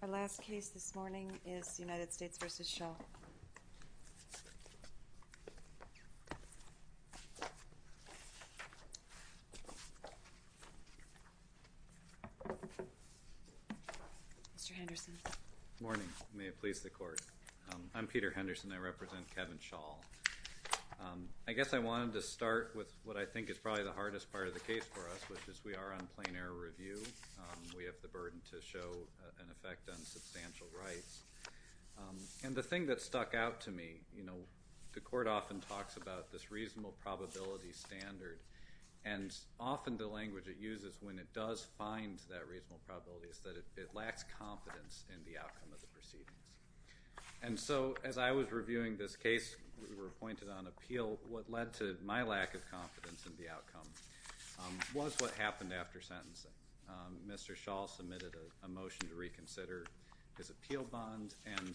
Good morning. May it please the Court. I'm Peter Henderson. I represent Kevin Schaul. I guess I wanted to start with what I think is probably the hardest part of the case for us, which is we are on plain error review. We have the burden to show an effect on substantial rights. And the thing that stuck out to me, you know, the Court often talks about this reasonable probability standard. And often the language it uses when it does find that reasonable probability is that it lacks confidence in the outcome of the proceedings. And so, as I was reviewing this case, we were appointed on appeal. What led to my lack of confidence in the outcome was what happened after sentencing. Mr. Schaul submitted a motion to reconsider his appeal bond, and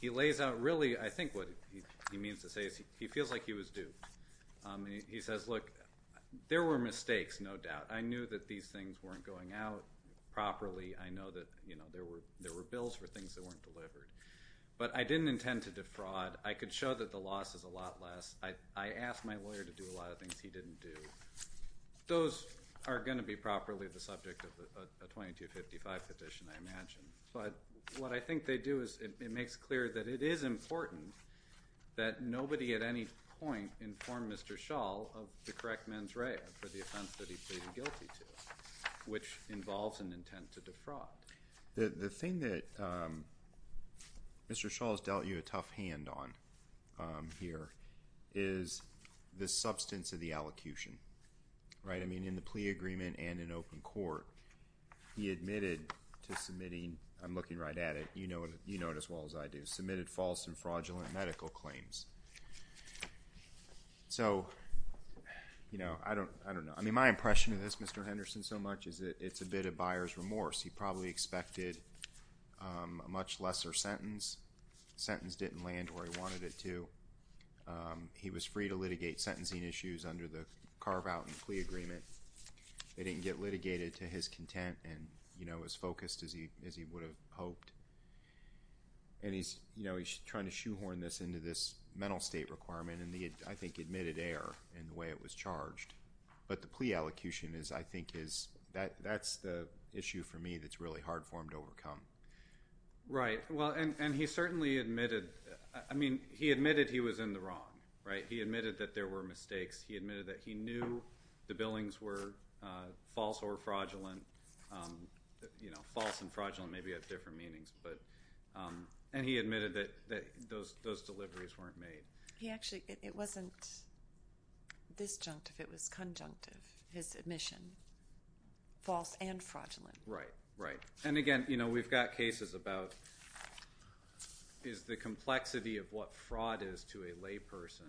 he lays out really, I think what he means to say is he feels like he was duped. He says, look, there were mistakes, no doubt. I knew that these things weren't going out properly. I know that there were bills for things that weren't delivered. But I didn't intend to defraud. I could show that the loss is a lot less. I asked my lawyer to do a lot of things he didn't do. Those are going to be properly the subject of a 2255 petition, I imagine. But what I think they do is it makes clear that it is important that nobody at any point inform Mr. Schaul of the correct mens rea for the offense that he pleaded guilty to, which involves an intent to defraud. The thing that Mr. Schaul has dealt you a tough hand on here is the substance of the allocution. In the plea agreement and in open court, he admitted to submitting, I'm looking right at it, you know it as well as I do, submitted false and fraudulent medical claims. So, you know, I don't know. I mean, my impression of this, Mr. Henderson, so much is that it's a bit of buyer's remorse. He probably expected a much lesser sentence. Sentence didn't land where he wanted it to. He was free to litigate sentencing issues under the carve-out and plea agreement. They didn't get litigated to his content and, you know, as focused as he would have hoped. And he's, you know, he's trying to shoehorn this into this mental state requirement and he had, I think, admitted error in the way it was charged. But the plea allocution is, I think, is, that's the issue for me that's really hard for him to overcome. Right. Well, and he certainly admitted, I mean, he admitted he was in the wrong, right? He admitted that there were mistakes. He admitted that he knew the billings were false or fraudulent. You know, false and fraudulent maybe have different meanings. But, and he admitted that those deliveries weren't made. He actually, it wasn't disjunctive, it was conjunctive, his admission. False and fraudulent. Right, right. And again, you know, we've got cases about is the complexity of what fraud is to a layperson,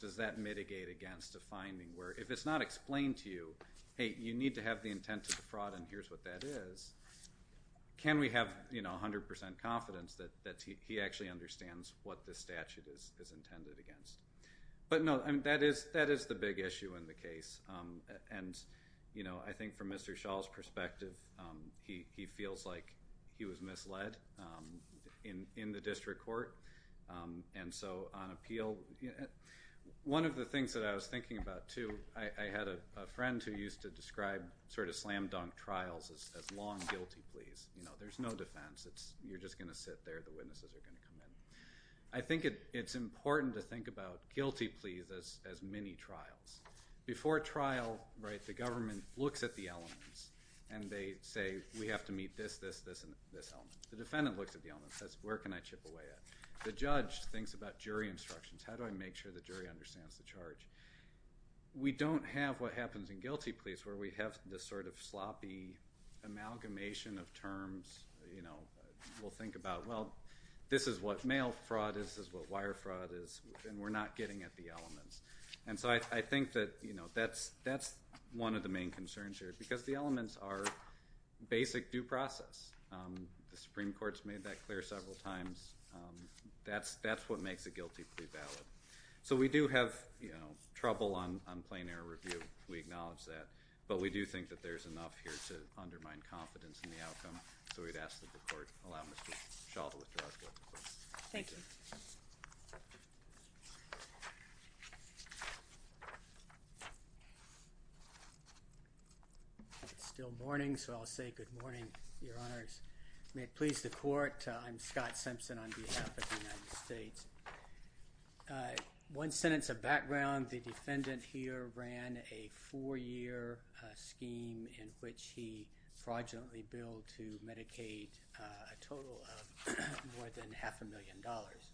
does that mitigate against a finding? Where if it's not explained to you, hey, you need to have the intent of the fraud and here's what that is, can we have, you know, 100% confidence that he actually understands what the statute is intended against? But no, I mean, that is the big issue in the case. And, you know, I think from Mr. Shaw's perspective, he feels like he was misled in the district court. And so on appeal, one of the things that I was thinking about too, I had a friend who used to describe sort of slam dunk trials as long guilty pleas. You know, there's no defense, you're just going to sit there, the witnesses are going to come in. I think it's important to think about guilty pleas as mini trials. Before trial, right, the government looks at the elements and they say we have to meet this, this, this, and this element. The defendant looks at the elements. That's where can I chip away at? The judge thinks about jury instructions. How do I make sure the jury understands the charge? We don't have what happens in guilty pleas where we have this sort of sloppy amalgamation of terms, you know. We'll think about, well, this is what mail fraud is, this is what wire fraud is, and we're not getting at the elements. And so I think that, you know, that's one of the main concerns here because the elements are basic due process. The Supreme Court's made that clear several times. That's what makes a guilty plea valid. So we do have, you know, trouble on plain error review. We acknowledge that. But we do think that there's enough here to undermine confidence in the outcome, so we'd ask that the court allow Mr. Shaw to withdraw his guilty plea. Thank you. It's still morning, so I'll say good morning, Your Honors. May it please the court, I'm Scott Simpson on behalf of the United States. One sentence of background. The defendant here ran a four-year scheme in which he fraudulently billed to Medicaid a total of more than half a million dollars.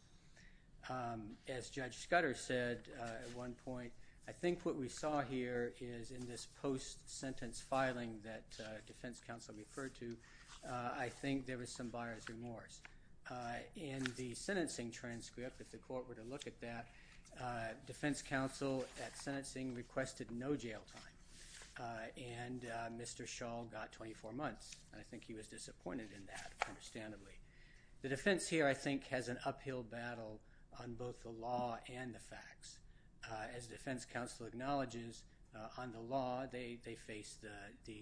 As Judge Scudder said at one point, I think what we saw here is in this post-sentence filing that defense counsel referred to, I think there was some buyer's remorse. In the sentencing transcript, if the court were to look at that, defense counsel at sentencing requested no jail time, and Mr. Shaw got 24 months, and I think he was disappointed in that, understandably. The defense here, I think, has an uphill battle on both the law and the facts. As defense counsel acknowledges, on the law they face the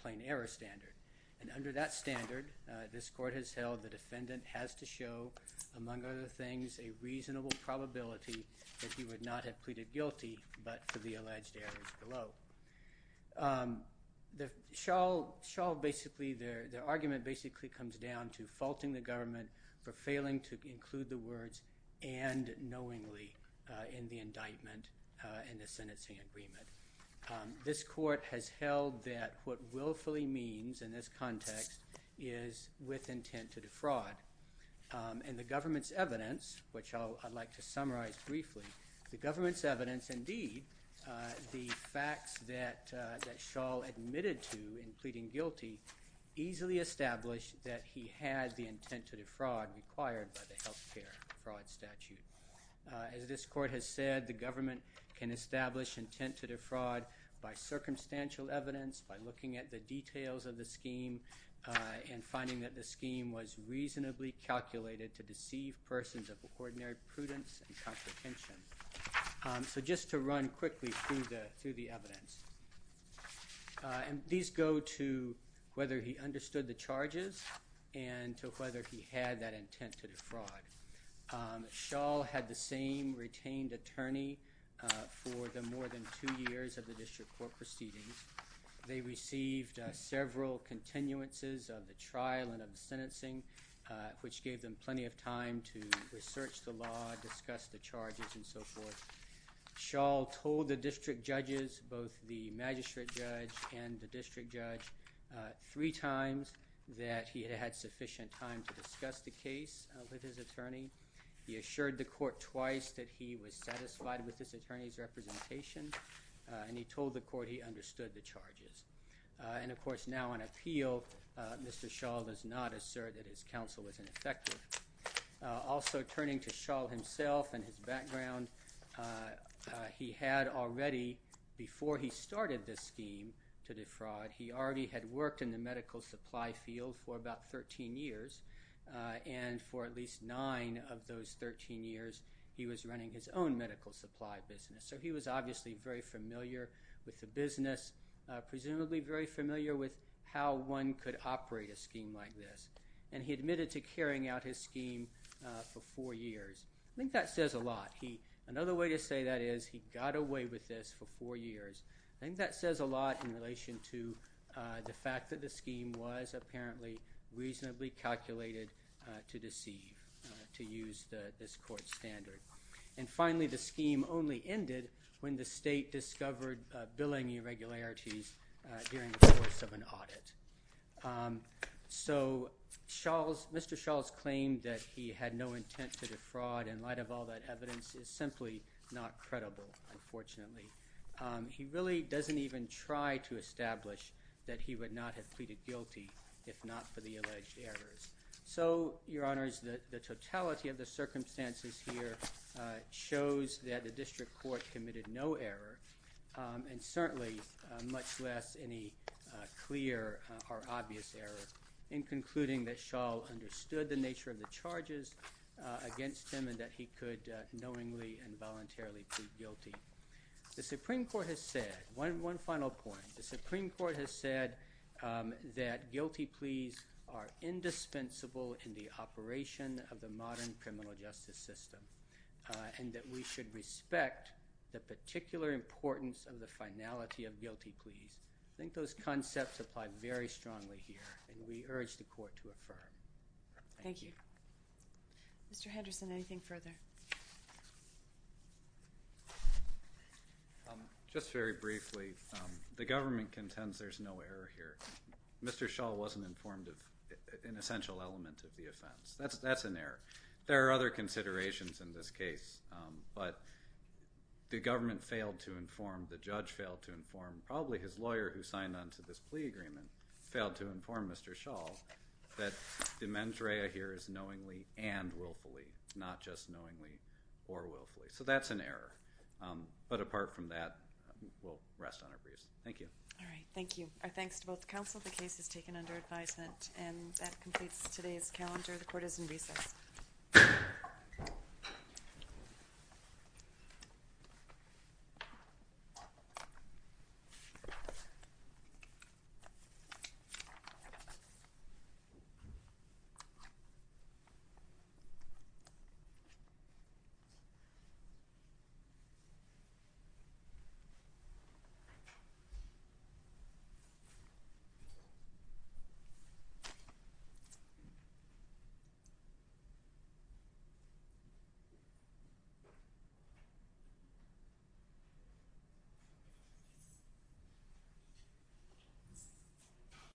plain error standard, and under that standard, this court has held the defendant has to show, among other things, a reasonable probability that he would not have pleaded guilty but for the alleged errors below. Shaw basically, their argument basically comes down to faulting the government for failing to include the words and knowingly in the indictment in the sentencing agreement. This court has held that what willfully means in this context is with intent to defraud, and the government's evidence, which I'd like to summarize briefly, the government's evidence, indeed, the facts that Shaw admitted to in pleading guilty easily established that he had the intent to defraud required by the health care fraud statute. As this court has said, the government can establish intent to defraud by circumstantial evidence, by looking at the details of the scheme and finding that the scheme was reasonably calculated to deceive persons of ordinary prudence and comprehension. So just to run quickly through the evidence, and these go to whether he understood the charges Shaw had the same retained attorney for the more than two years of the district court proceedings. They received several continuances of the trial and of the sentencing, which gave them plenty of time to research the law, discuss the charges, and so forth. Shaw told the district judges, both the magistrate judge and the district judge, three times that he had had sufficient time to discuss the case with his attorney. He assured the court twice that he was satisfied with this attorney's representation, and he told the court he understood the charges. And, of course, now on appeal, Mr. Shaw does not assert that his counsel was ineffective. Also, turning to Shaw himself and his background, he had already, before he started this scheme to defraud, he already had worked in the medical supply field for about 13 years, and for at least nine of those 13 years he was running his own medical supply business. So he was obviously very familiar with the business, presumably very familiar with how one could operate a scheme like this, and he admitted to carrying out his scheme for four years. I think that says a lot. Another way to say that is he got away with this for four years. I think that says a lot in relation to the fact that the scheme was apparently reasonably calculated to deceive, to use this court's standard. And finally, the scheme only ended when the state discovered billing irregularities during the course of an audit. So Mr. Shaw's claim that he had no intent to defraud in light of all that evidence is simply not credible, unfortunately. He really doesn't even try to establish that he would not have pleaded guilty if not for the alleged errors. So, Your Honors, the totality of the circumstances here shows that the district court committed no error, and certainly much less any clear or obvious error in concluding that Shaw understood the nature of the charges against him and that he could knowingly and voluntarily plead guilty. The Supreme Court has said, one final point, the Supreme Court has said that guilty pleas are indispensable in the operation of the modern criminal justice system and that we should respect the particular importance of the finality of guilty pleas. I think those concepts apply very strongly here, and we urge the court to affirm. Thank you. Mr. Henderson, anything further? Just very briefly, the government contends there's no error here. Mr. Shaw wasn't informed of an essential element of the offense. That's an error. There are other considerations in this case, but the government failed to inform, the judge failed to inform, knowingly and willfully, not just knowingly or willfully. So that's an error. But apart from that, we'll rest on our breaths. Thank you. All right. Thank you. Our thanks to both counsel. The case is taken under advisement, and that completes today's calendar. The court is in recess. Thank you.